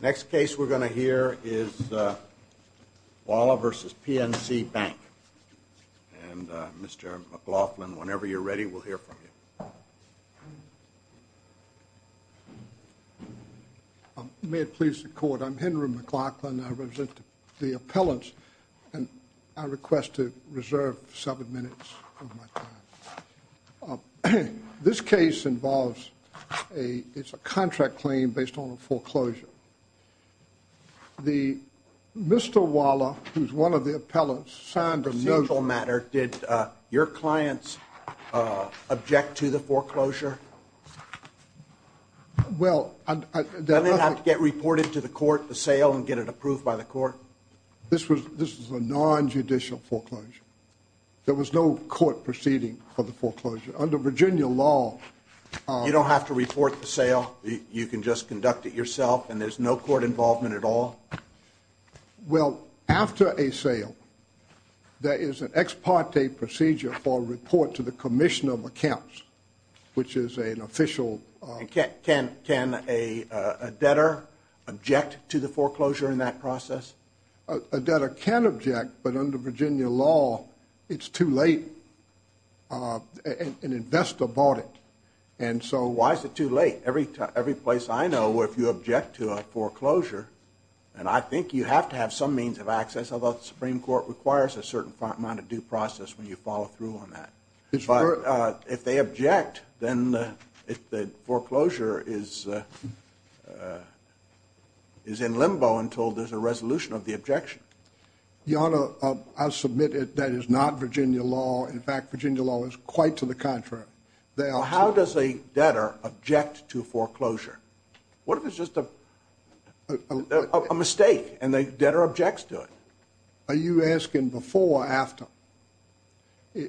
Next case we're going to hear is Whala v. PNC Bank and Mr. McLaughlin, whenever you're ready to hear from you. May it please the court, I'm Henry McLaughlin, I represent the appellants and I request to reserve seven minutes of my time. This case involves a, it's a contract claim based on a foreclosure. The, Mr. Whala, who's one of the appellants, signed a note. Procedural matter, did your clients object to the foreclosure? Well, I didn't have to get reported to the court, the sale, and get it approved by the court. This was, this was a non-judicial foreclosure. There was no court proceeding for the foreclosure. Under Virginia law, You don't have to report the sale, you can just conduct it yourself and there's no court involvement at all? Well, after a sale, there is an ex parte procedure for a report to the Commissioner of Accounts, which is an official. Can a debtor object to the foreclosure in that process? A debtor can object, but under Virginia law, it's too late. An investor bought it. And so, Why is it too late? Every place I know, if you object to a foreclosure, and I think you have to have some means of access, although the Supreme Court requires a certain amount of due process when you follow through on that. But, if they object, then the foreclosure is in limbo until there's a resolution of the objection. Your Honor, I'll submit it, that is not Virginia law. In fact, Virginia law is quite to the contrary. How does a debtor object to foreclosure? What if it's just a mistake, and the debtor objects to it? Are you asking before or after?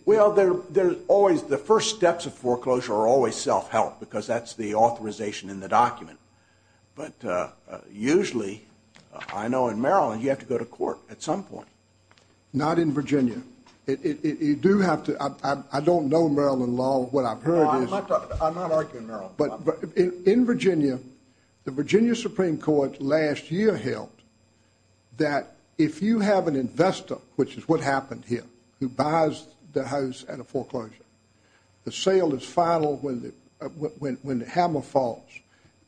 Well, there's always, the first steps of foreclosure are always self-help, because that's the authorization in the document. But usually, I know in Maryland, you have to go to court at some point. Not in Virginia. You do have to, I don't know Maryland law, but what I've heard is. I'm not arguing Maryland. In Virginia, the Virginia Supreme Court last year held that if you have an investor, which is what happened here, who buys the house at a foreclosure, the sale is final when the hammer falls.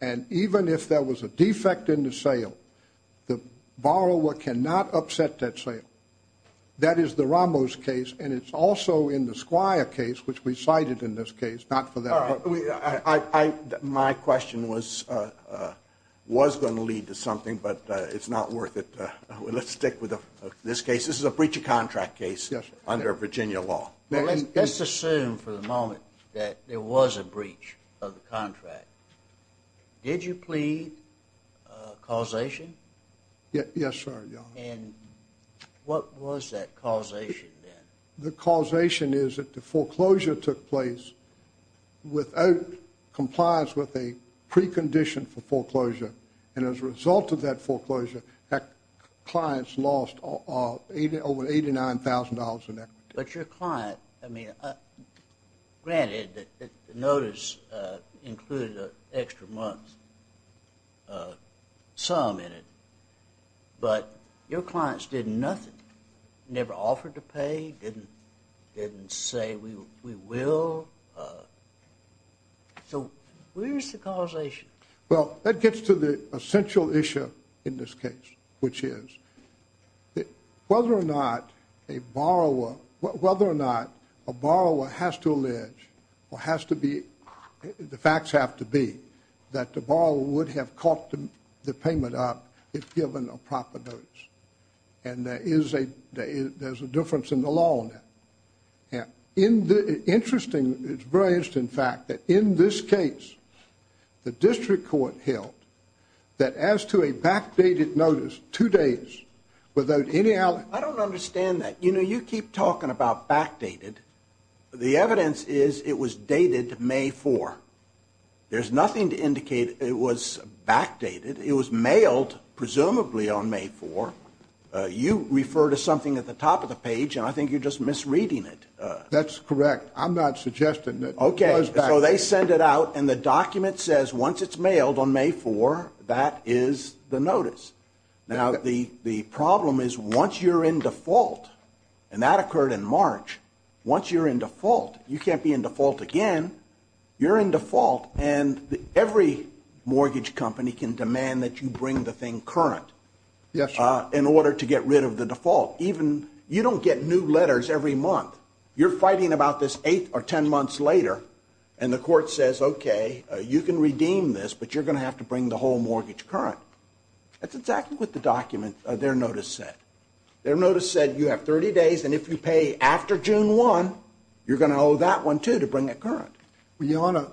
And even if there was a defect in the sale, the borrower cannot upset that sale. That is the Ramos case, and it's also in the Squire case, which we cited in this case, not for that purpose. My question was going to lead to something, but it's not worth it. Let's stick with this case. This is a breach of contract case under Virginia law. Let's assume, for the moment, that there was a breach of the contract. Did you plead causation? Yes, sir, Your Honor. And what was that causation then? The causation is that the foreclosure took place without compliance with a precondition for foreclosure, and as a result of that foreclosure, that client's lost over $89,000 in equity. But your client, I mean, granted, the notice included an extra month's sum in it, but your clients did nothing, never offered to pay, didn't say, we will, so where's the causation? Well, that gets to the essential issue in this case, which is whether or not a borrower has to allege, or has to be, the facts have to be, that the borrower would have caught the payment up if given a proper notice. And there is a difference in the law on that. In the interesting, it's brilliant, in fact, that in this case, the district court held that as to a backdated notice, two days, without any allegation... I don't understand that. You know, you keep talking about backdated. The evidence is it was dated May 4. There's nothing to indicate it was backdated. It was mailed, presumably, on May 4. You refer to something at the top of the page, and I think you're just misreading it. That's correct. I'm not suggesting that... Okay, so they send it out, and the document says once it's mailed on May 4, that is the notice. Now, the problem is once you're in default, and that occurred in March, once you're in default again, you're in default, and every mortgage company can demand that you bring the thing current in order to get rid of the default. You don't get new letters every month. You're fighting about this eight or ten months later, and the court says, okay, you can redeem this, but you're going to have to bring the whole mortgage current. That's exactly what the document, their notice said. Their notice said you have 30 days, and if you pay after June 1, you're going to owe that one, too, to bring it current. Your Honor,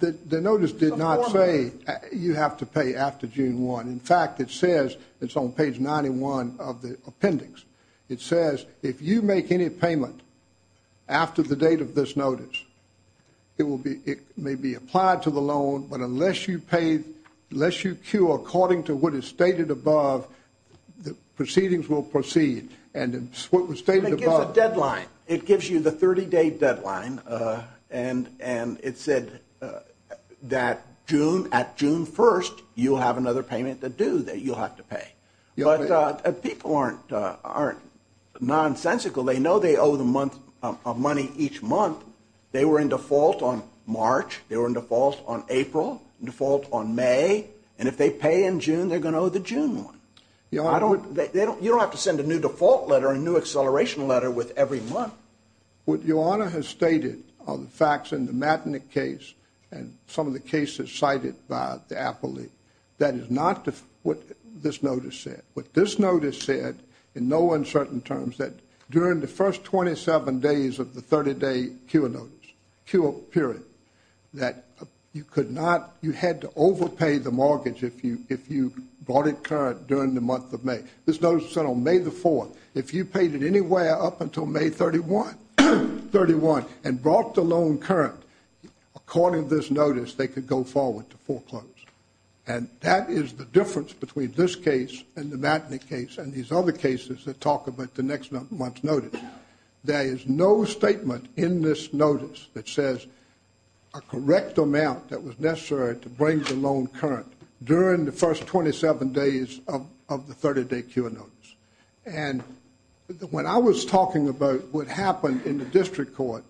the notice did not say you have to pay after June 1. In fact, it says, it's on page 91 of the appendix, it says if you make any payment after the date of this notice, it may be applied to the loan, but unless you pay, unless you cue according to what is stated above, the proceedings will proceed, and what was stated above... It gives a deadline. It gives you the 30-day deadline, and it said that June, at June 1, you'll have another payment to do that you'll have to pay, but people aren't nonsensical. They know they owe the money each month. They were in default on March, they were in default on April, default on May, and if they pay in June, they're going to owe the June one. Your Honor... You don't have to send a new default letter, a new acceleration letter with every month. What Your Honor has stated are the facts in the Matanik case, and some of the cases cited by the appellate, that is not what this notice said. What this notice said, in no uncertain terms, that during the first 27 days of the 30-day cure notice, cure period, that you could not, you had to overpay the mortgage if you brought it current during the month of May. This notice said on May the 4th, if you paid it anywhere up until May 31, and brought the loan current, according to this notice, they could go forward to foreclose. And that is the difference between this case, and the Matanik case, and these other cases that talk about the next month's notice. There is no statement in this notice that says a correct amount that was necessary to in the first 27 days of the 30-day cure notice. And when I was talking about what happened in the district court,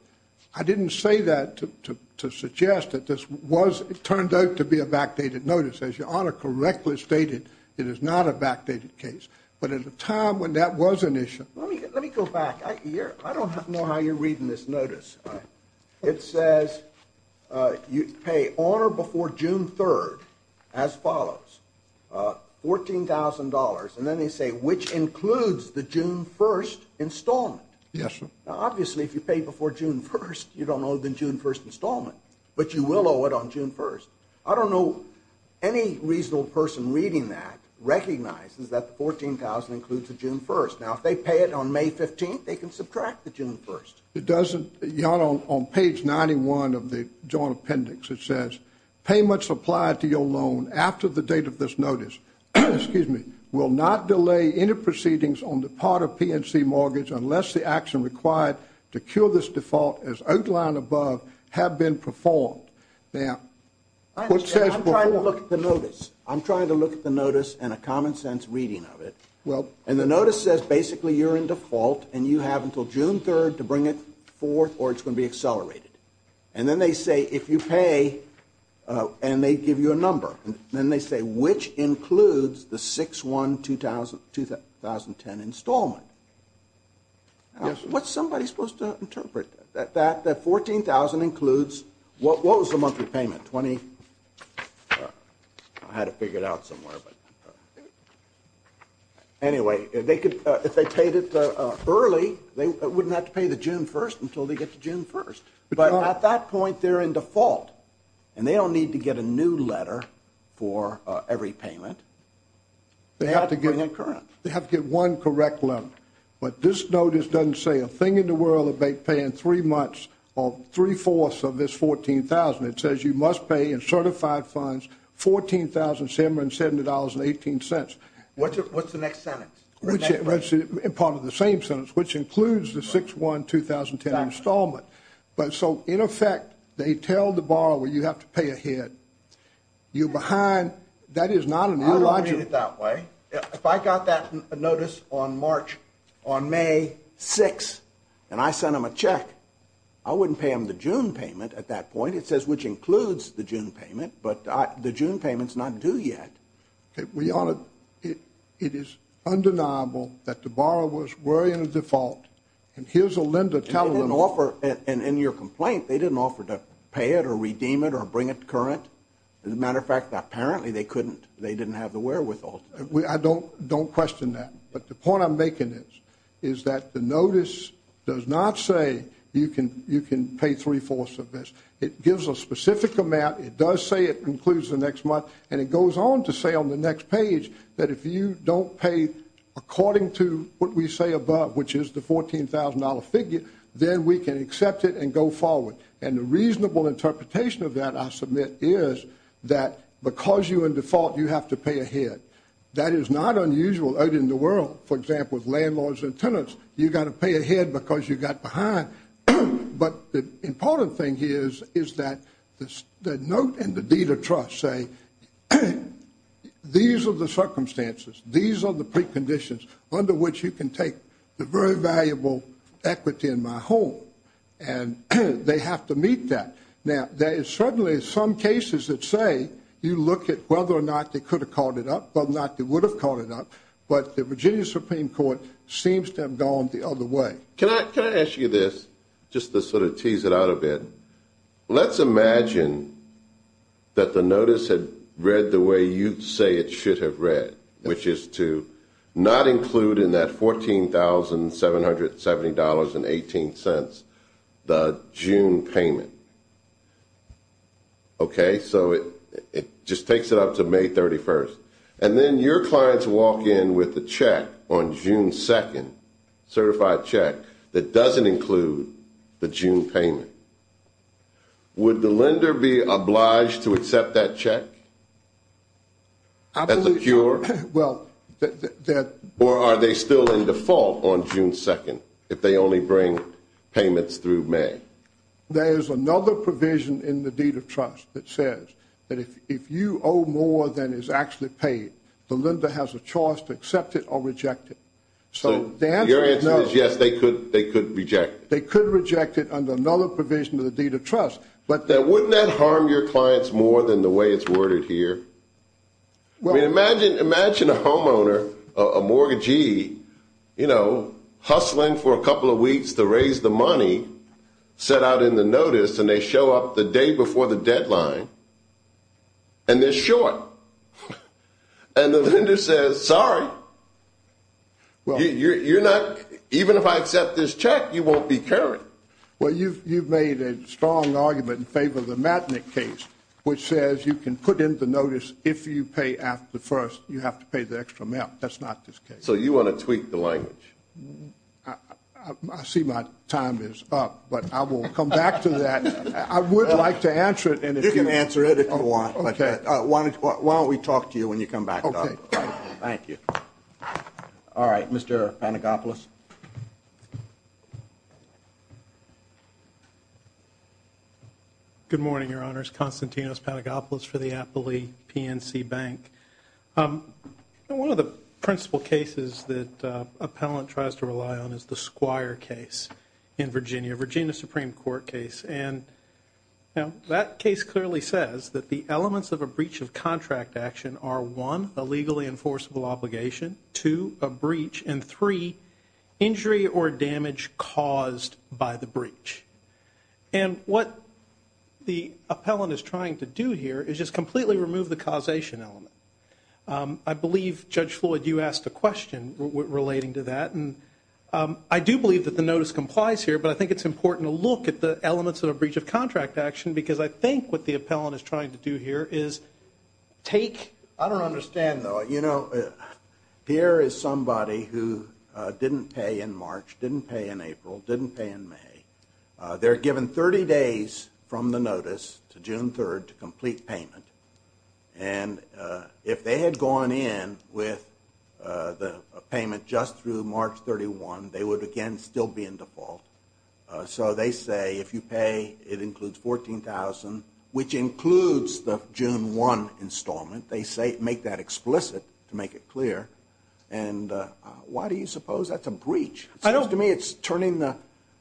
I didn't say that to suggest that this was, it turned out to be a backdated notice. As Your Honor correctly stated, it is not a backdated case. But at the time when that was an issue... Let me go back. I don't know how you're reading this notice. It says, you pay on or before June 3rd, as follows, $14,000, and then they say, which includes the June 1st installment. Yes, sir. Now, obviously, if you pay before June 1st, you don't owe the June 1st installment. But you will owe it on June 1st. I don't know any reasonable person reading that recognizes that the $14,000 includes the June 1st. Now, if they pay it on May 15th, they can subtract the June 1st. It doesn't, Your Honor, on page 91 of the Joint Appendix, it says, payments applied to your loan after the date of this notice will not delay any proceedings on the part of PNC Mortgage unless the action required to cure this default as outlined above have been performed. Now, what says performed... I understand. I'm trying to look at the notice. I'm trying to look at the notice and a common sense reading of it. And the notice says, basically, you're in default and you have until June 3rd to bring it forth or it's going to be accelerated. And then they say, if you pay, and they give you a number, and then they say, which includes the 6-1-2010 installment. What's somebody supposed to interpret that that $14,000 includes, what was the monthly payment? 6-1-20... I had to figure it out somewhere, but anyway, if they paid it early, they wouldn't have to pay the June 1st until they get to June 1st. But at that point, they're in default, and they don't need to get a new letter for every payment. They have to get one correct letter. But this notice doesn't say a thing in the world of paying three months or three-fourths of this $14,000. It says you must pay in certified funds $14,770.18. What's the next sentence? Part of the same sentence, which includes the 6-1-2010 installment. But so, in effect, they tell the borrower, you have to pay ahead. You're behind. That is not an illogical... I read it that way. If I got that notice on March, on May 6th, and I sent them a check, I wouldn't pay them the June payment at that point. In fact, it says, which includes the June payment, but the June payment's not due yet. We ought to... It is undeniable that the borrower was wearing a default, and here's a lender telling them... In your complaint, they didn't offer to pay it or redeem it or bring it current. As a matter of fact, apparently, they couldn't. They didn't have the wherewithal. I don't question that. But the point I'm making is that the notice does not say you can pay three-fourths of this. It gives a specific amount. It does say it includes the next month, and it goes on to say on the next page that if you don't pay according to what we say above, which is the $14,000 figure, then we can accept it and go forward. And the reasonable interpretation of that, I submit, is that because you're in default, you have to pay ahead. That is not unusual out in the world. For example, with landlords and tenants, you've got to pay ahead because you got behind. But the important thing here is that the note and the deed of trust say these are the circumstances, these are the preconditions under which you can take the very valuable equity in my home. And they have to meet that. Now, there is certainly some cases that say you look at whether or not they could have caught it up, whether or not they would have caught it up, but the Virginia Supreme Court seems to have gone the other way. Can I ask you this, just to sort of tease it out a bit? Let's imagine that the notice had read the way you say it should have read, which is to not include in that $14,770.18 the June payment. Okay? So it just takes it up to May 31st. And then your clients walk in with a check on June 2nd, a certified check, that doesn't include the June payment. Would the lender be obliged to accept that check as a cure? Or are they still in default on June 2nd if they only bring payments through May? There's another provision in the deed of trust that says that if you owe more than is actually paid, the lender has a choice to accept it or reject it. So the answer is no. Your answer is yes, they could reject it. They could reject it under another provision of the deed of trust. But then wouldn't that harm your clients more than the way it's worded here? Imagine a homeowner, a mortgagee, you know, hustling for a couple of weeks to raise the And the lender says, sorry, you're not, even if I accept this check, you won't be carried. Well, you've made a strong argument in favor of the Matnick case, which says you can put in the notice if you pay after the first, you have to pay the extra amount. That's not this case. So you want to tweak the language? I see my time is up, but I will come back to that. I would like to answer it. You can answer it if you want. Okay. Why don't we talk to you when you come back? Okay. Thank you. All right. Mr. Pantagopoulos. Good morning, Your Honors, Konstantinos Pantagopoulos for the Appley PNC Bank. One of the principal cases that appellant tries to rely on is the Squire case in Virginia, Virginia Supreme Court case. And that case clearly says that the elements of a breach of contract action are one, a legally enforceable obligation, two, a breach, and three, injury or damage caused by the breach. And what the appellant is trying to do here is just completely remove the causation element. I believe, Judge Floyd, you asked a question relating to that. And I do believe that the notice complies here, but I think it's important to look at the elements of a breach of contract action, because I think what the appellant is trying to do here is take... I don't understand, though. You know, Pierre is somebody who didn't pay in March, didn't pay in April, didn't pay in May. They're given 30 days from the notice to June 3rd to complete payment. And if they had gone in with the payment just through March 31, they would, again, still be in default. So they say if you pay, it includes $14,000, which includes the June 1 installment. They make that explicit to make it clear. And why do you suppose that's a breach? It seems to me it's turning the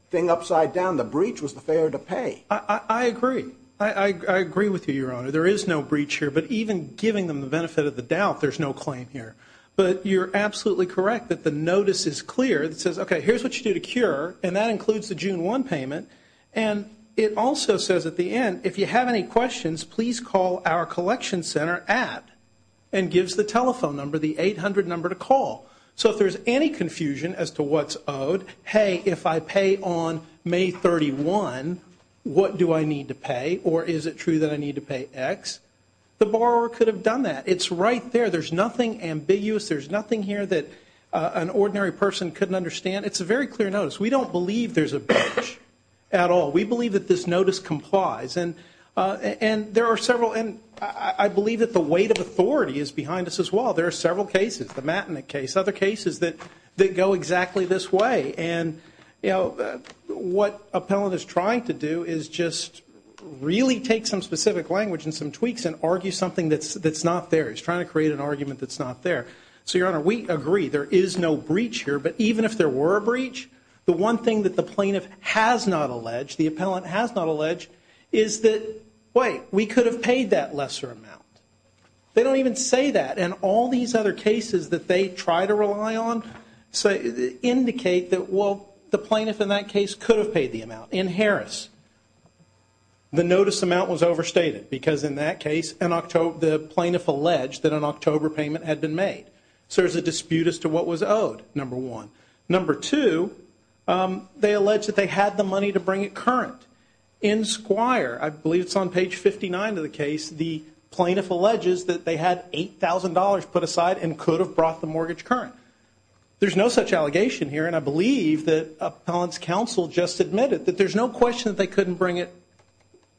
thing upside down. The breach was the failure to pay. I agree. I agree with you, Your Honor. There is no breach here. But even giving them the benefit of the doubt, there's no claim here. But you're absolutely correct that the notice is clear that says, okay, here's what you need to do to cure, and that includes the June 1 payment. And it also says at the end, if you have any questions, please call our collection center at, and gives the telephone number, the 800 number to call. So if there's any confusion as to what's owed, hey, if I pay on May 31, what do I need to pay, or is it true that I need to pay X, the borrower could have done that. It's right there. There's nothing ambiguous. There's nothing here that an ordinary person couldn't understand. It's a very clear notice. We don't believe there's a breach at all. We believe that this notice complies. And there are several, and I believe that the weight of authority is behind us as well. There are several cases, the Matanik case, other cases that go exactly this way. And what Appellant is trying to do is just really take some specific language and some tweaks and argue something that's not there. He's trying to create an argument that's not there. So, Your Honor, we agree there is no breach here. But even if there were a breach, the one thing that the Plaintiff has not alleged, the Appellant has not alleged, is that, wait, we could have paid that lesser amount. They don't even say that. And all these other cases that they try to rely on indicate that, well, the Plaintiff in that case could have paid the amount. In Harris, the notice amount was overstated because in that case, the Plaintiff alleged that an October payment had been made. So there's a dispute as to what was owed. Number one. Number two, they allege that they had the money to bring it current. In Squire, I believe it's on page 59 of the case, the Plaintiff alleges that they had $8,000 put aside and could have brought the mortgage current. There's no such allegation here, and I believe that Appellant's counsel just admitted that there's no question that they couldn't bring it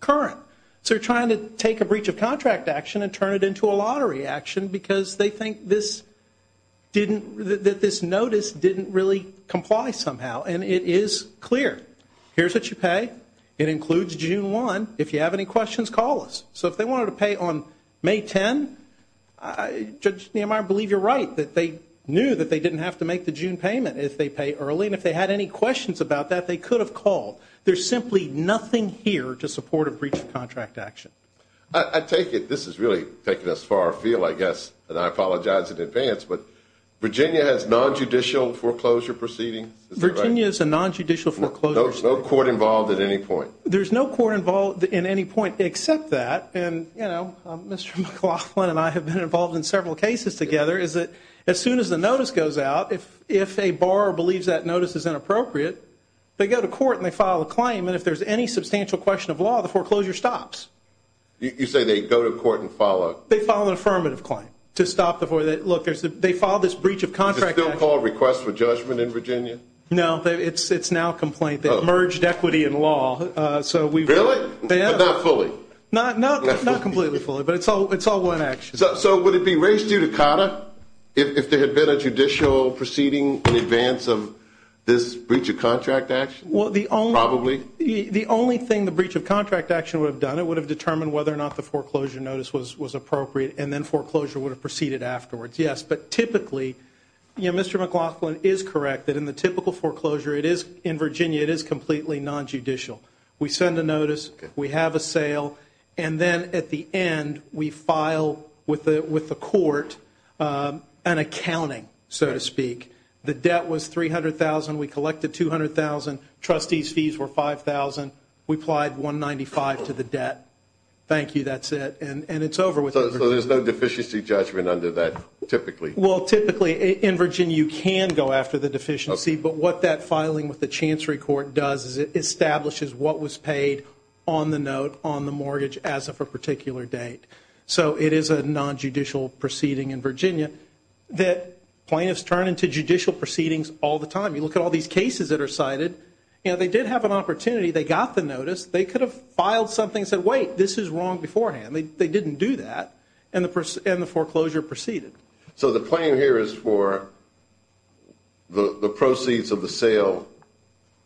current. So they're trying to take a breach of contract action and turn it into a lottery action because they think that this notice didn't really comply somehow, and it is clear. Here's what you pay. It includes June 1. If you have any questions, call us. So if they wanted to pay on May 10, Judge Nehemiah, I believe you're right, that they knew that they didn't have to make the June payment if they pay early, and if they had any questions about that, they could have called. There's simply nothing here to support a breach of contract action. I take it this has really taken us far afield, I guess, and I apologize in advance, but Virginia has non-judicial foreclosure proceedings, is that right? Virginia has a non-judicial foreclosure proceeding. No court involved at any point. There's no court involved in any point except that, and you know, Mr. McLaughlin and I have been involved in several cases together, is that as soon as the notice goes out, if a borrower believes that notice is inappropriate, they go to court and they file a claim, and if there's any substantial question of law, the foreclosure stops. You say they go to court and file a... They file an affirmative claim to stop the foreclosure, look, they filed this breach of contract action. Is it still called Request for Judgment in Virginia? No, it's now complaint, they've merged equity and law, so we've... Really? Yeah. But not fully? Not completely fully, but it's all one action. So would it be raised due to COTA if there had been a judicial proceeding in advance of this breach of contract action? The only... The only thing the breach of contract action would have done, it would have determined whether or not the foreclosure notice was appropriate, and then foreclosure would have proceeded afterwards, yes. But typically, you know, Mr. McLaughlin is correct that in the typical foreclosure it is... In Virginia, it is completely non-judicial. We send a notice, we have a sale, and then at the end, we file with the court an accounting, so to speak. The debt was $300,000, we collected $200,000, trustee's fees were $5,000, we applied $195,000 to the debt. Thank you, that's it, and it's over with. So there's no deficiency judgment under that, typically? Well, typically, in Virginia, you can go after the deficiency, but what that filing with the Chancery Court does is it establishes what was paid on the note, on the mortgage, as of a particular date. So it is a non-judicial proceeding in Virginia that plaintiffs turn into judicial proceedings all the time. You look at all these cases that are cited, you know, they did have an opportunity, they got the notice, they could have filed something and said, wait, this is wrong beforehand. They didn't do that, and the foreclosure proceeded. So the claim here is for the proceeds of the sale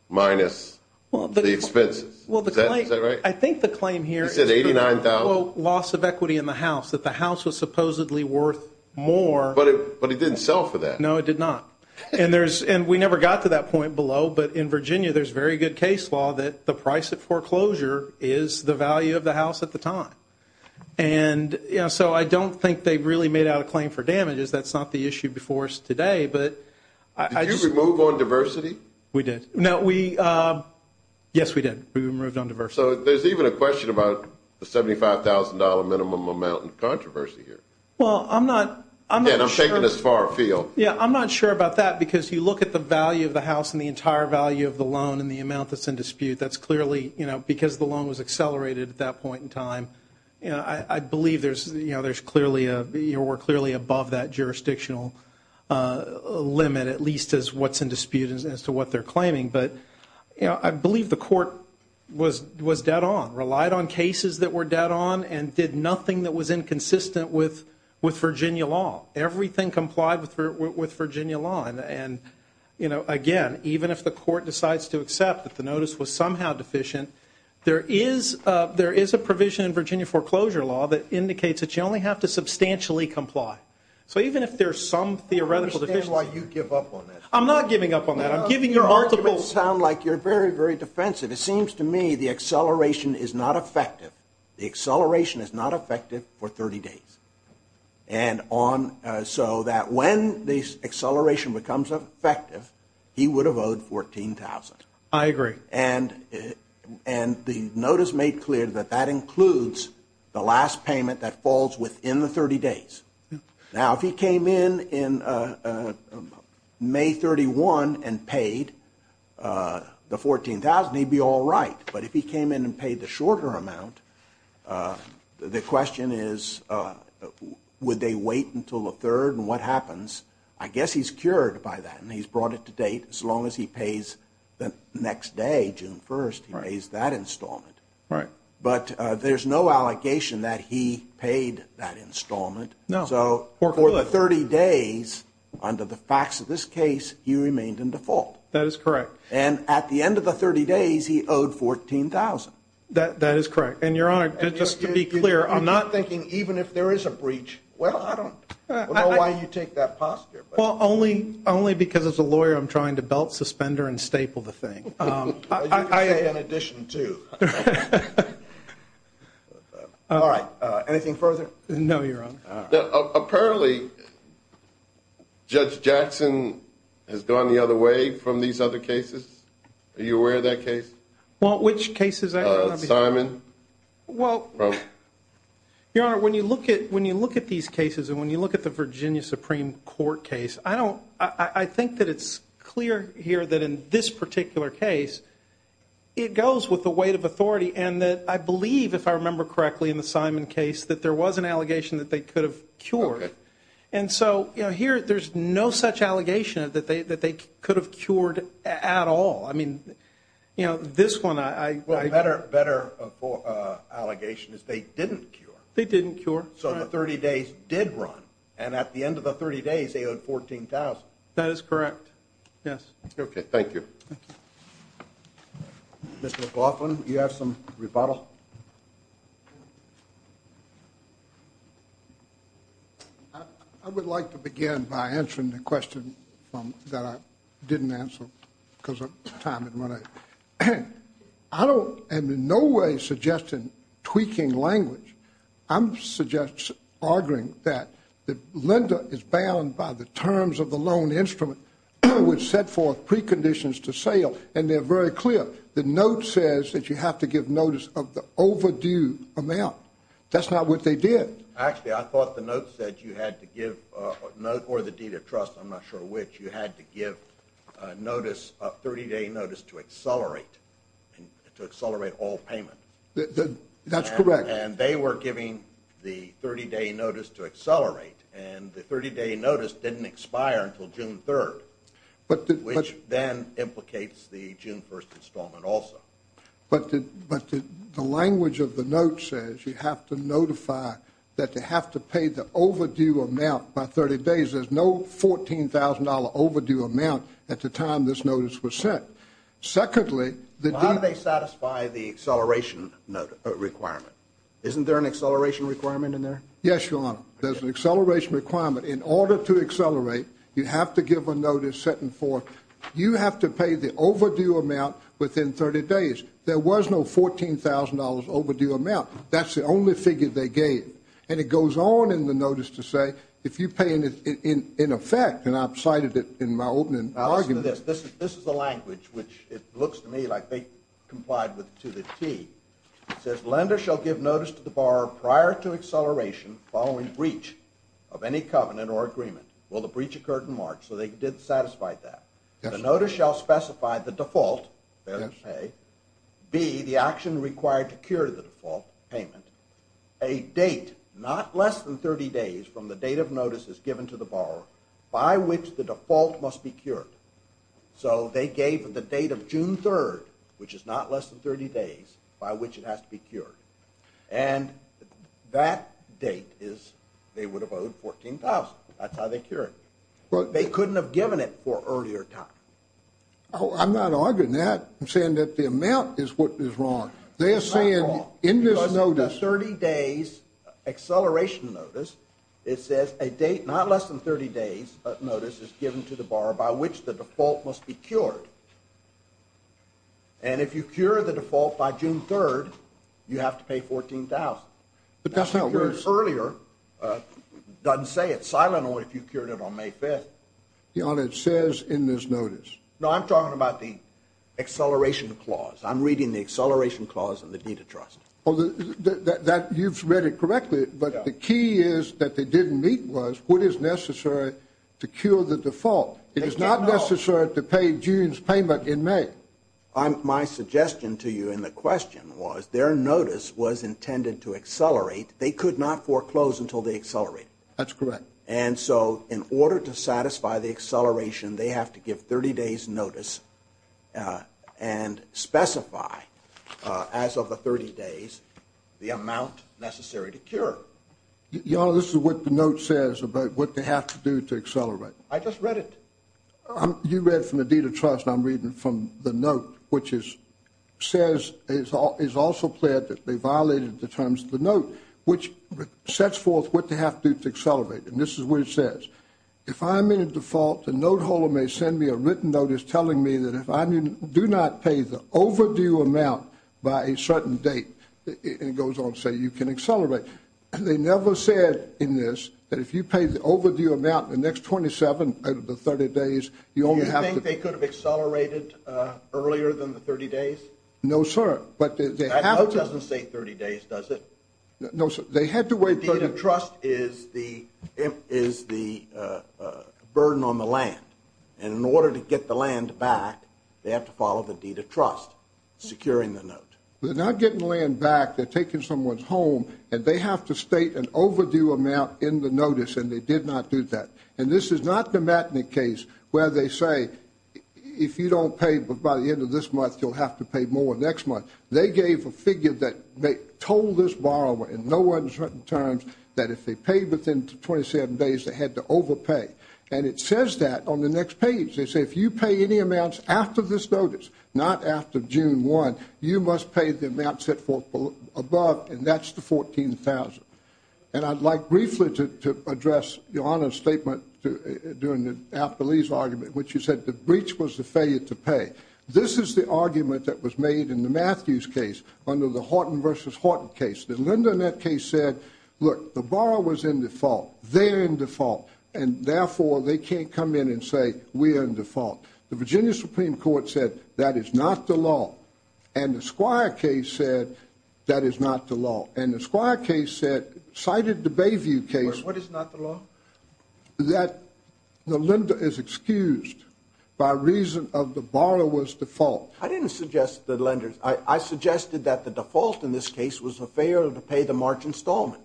minus the expenses, is that right? I think the claim here is for the loss of equity in the house, that the house was supposedly worth more. But it didn't sell for that. No, it did not. And we never got to that point below, but in Virginia, there's very good case law that the price of foreclosure is the value of the house at the time. And so I don't think they really made out a claim for damages, that's not the issue before us today, but I just... Did you remove on diversity? We did. No, we... Yes, we did. We removed on diversity. So there's even a question about the $75,000 minimum amount in controversy here. Well, I'm not... Again, I'm taking this far afield. Yeah, I'm not sure about that because you look at the value of the house and the entire value of the loan and the amount that's in dispute, that's clearly, you know, because the loan was accelerated at that point in time, you know, I believe there's clearly a... You know, we're clearly above that jurisdictional limit, at least as what's in dispute as to what they're claiming. But, you know, I believe the court was dead on, relied on cases that were dead on and did nothing that was inconsistent with Virginia law. Everything complied with Virginia law and, you know, again, even if the court decides to accept that the notice was somehow deficient, there is a provision in Virginia foreclosure law that indicates that you only have to substantially comply. So even if there's some theoretical deficiency... I understand why you give up on that. I'm not giving up on that. I'm giving you multiple... Your arguments sound like you're very, very defensive. It seems to me the acceleration is not effective. The acceleration is not effective for 30 days. And on... So that when the acceleration becomes effective, he would have owed $14,000. I agree. And the notice made clear that that includes the last payment that falls within the 30 days. Now, if he came in in May 31 and paid the $14,000, he'd be all right. But if he came in and paid the shorter amount, the question is, would they wait until the third and what happens? I guess he's cured by that and he's brought it to date as long as he pays the next day, June 1st, he pays that installment. But there's no allegation that he paid that installment. So for the 30 days, under the facts of this case, he remained in default. That is correct. And at the end of the 30 days, he owed $14,000. That is correct. And Your Honor, just to be clear, I'm not... You're thinking even if there is a breach, well, I don't know why you take that posture. Well, only because as a lawyer, I'm trying to belt, suspender and staple the thing. I am in addition too. All right. Anything further? No, Your Honor. Apparently, Judge Jackson has gone the other way from these other cases. Are you aware of that case? Well, which case is that? Simon. Well, Your Honor, when you look at these cases and when you look at the Virginia Supreme Court case, I don't... I think that it's clear here that in this particular case, it goes with the weight of authority and that I believe, if I remember correctly, in the Simon case, that there was an allegation that they could have cured. And so here, there's no such allegation that they could have cured at all. I mean, this one, I... Better allegation is they didn't cure. They didn't cure. So the 30 days did run. And at the end of the 30 days, they owed $14,000. That is correct. Yes. Okay. Thank you. Thank you. Mr. McLaughlin, you have some rebuttal? I would like to begin by answering the question that I didn't answer because of time and money. I don't... I'm in no way suggesting tweaking language. I'm arguing that the lender is bound by the terms of the loan instrument which set forth preconditions to sale and they're very clear. The note says that you have to give notice of the overdue amount. That's not what they did. Actually, I thought the note said you had to give a note or the deed of trust, I'm not sure which, you had to give notice, a 30-day notice to accelerate, to accelerate all payment. That's correct. And they were giving the 30-day notice to accelerate and the 30-day notice didn't expire until June 3rd, which then implicates the June 1st installment also. But the language of the note says you have to notify that they have to pay the overdue amount by 30 days. There's no $14,000 overdue amount at the time this notice was sent. Secondly, the deed... Well, how do they satisfy the acceleration requirement? Isn't there an acceleration requirement in there? Yes, Your Honor. There's an acceleration requirement. In order to accelerate, you have to give a notice setting forth, you have to pay the overdue amount within 30 days. There was no $14,000 overdue amount. That's the only figure they gave. And it goes on in the notice to say, if you pay in effect, and I've cited it in my opening argument... Which it looks to me like they complied to the T. It says, lender shall give notice to the borrower prior to acceleration following breach of any covenant or agreement. Well, the breach occurred in March, so they did satisfy that. Yes, Your Honor. The notice shall specify the default, failure to pay, B, the action required to cure the default payment, a date not less than 30 days from the date of notice is given to the borrower by which the default must be cured. So they gave the date of June 3rd, which is not less than 30 days, by which it has to be cured. And that date is, they would have owed $14,000. That's how they cured it. They couldn't have given it for earlier time. Oh, I'm not arguing that. I'm saying that the amount is what is wrong. They're saying in this notice... Because in the 30 days acceleration notice, it says a date not less than 30 days notice is given to the borrower by which the default must be cured. And if you cure the default by June 3rd, you have to pay $14,000. But that's how it works. That's how it was earlier. It doesn't say it's silent or if you cured it on May 5th. Your Honor, it says in this notice. No, I'm talking about the acceleration clause. I'm reading the acceleration clause in the deed of trust. You've read it correctly, but the key is that they didn't meet was what is necessary to the default. It is not necessary to pay June's payment in May. My suggestion to you in the question was their notice was intended to accelerate. They could not foreclose until they accelerate. That's correct. And so in order to satisfy the acceleration, they have to give 30 days notice and specify as of the 30 days, the amount necessary to cure. Your Honor, this is what the note says about what they have to do to accelerate. I just read it. You read from the deed of trust. I'm reading from the note, which is says, is also clear that they violated the terms of the note, which sets forth what they have to do to accelerate, and this is what it says. If I'm in a default, the note holder may send me a written notice telling me that if I do not pay the overdue amount by a certain date, it goes on to say you can accelerate. They never said in this that if you pay the overdue amount the next 27 out of the 30 days, you only have to... Do you think they could have accelerated earlier than the 30 days? No, sir. But they have to... That note doesn't say 30 days, does it? No, sir. They had to wait... The deed of trust is the burden on the land, and in order to get the land back, they have to follow the deed of trust, securing the note. They're not getting the land back, they're taking someone's home, and they have to state an overdue amount in the notice, and they did not do that. And this is not the Matnick case where they say, if you don't pay by the end of this month, you'll have to pay more next month. They gave a figure that they told this borrower in no uncertain terms that if they paid within the 27 days, they had to overpay. And it says that on the next page. They say, if you pay any amounts after this notice, not after June 1, you must pay the amount set forth above, and that's the $14,000. And I'd like briefly to address Your Honor's statement during the after-lease argument, which you said the breach was the failure to pay. This is the argument that was made in the Matthews case under the Horton versus Horton case. The lender in that case said, look, the borrower's in default, they're in default, and therefore they can't come in and say, we are in default. The Virginia Supreme Court said, that is not the law. And the Squire case said, that is not the law. And the Squire case said, cited the Bayview case. What is not the law? That the lender is excused by reason of the borrower's default. I didn't suggest the lender's. I suggested that the default in this case was the failure to pay the March installment.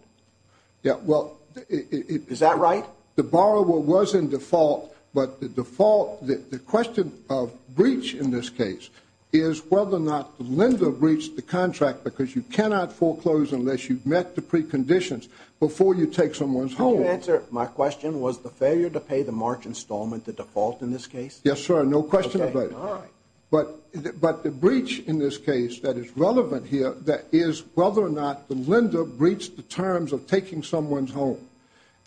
Yeah, well, it- Is that right? Well, the borrower was in default, but the default, the question of breach in this case is whether or not the lender breached the contract because you cannot foreclose unless you've met the preconditions before you take someone's home. To answer my question, was the failure to pay the March installment the default in this case? Yes, sir. No question about it. Okay. All right. But the breach in this case that is relevant here, that is whether or not the lender breached the terms of taking someone's home.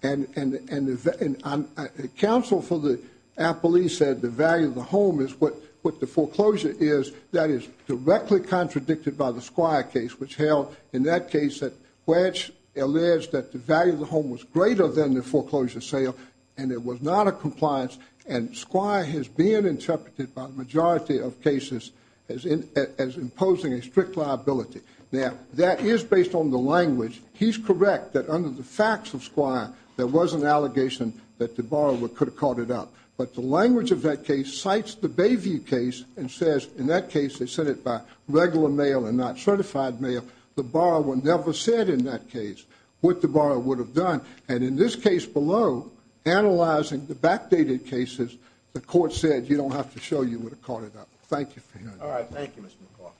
And the counsel for the appellee said the value of the home is what the foreclosure is. That is directly contradicted by the Squire case, which held, in that case, that Wedge alleged that the value of the home was greater than the foreclosure sale, and it was not a compliance. And Squire has been interpreted by the majority of cases as imposing a strict liability. Now, that is based on the language. He's correct that under the facts of Squire, there was an allegation that the borrower could have caught it up. But the language of that case cites the Bayview case and says, in that case, they said it by regular mail and not certified mail. The borrower never said in that case what the borrower would have done. And in this case below, analyzing the backdated cases, the court said you don't have to show you would have caught it up. Thank you for hearing that. All right. Thank you, Mr.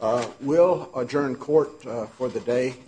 McLaughlin. We'll adjourn court for the day.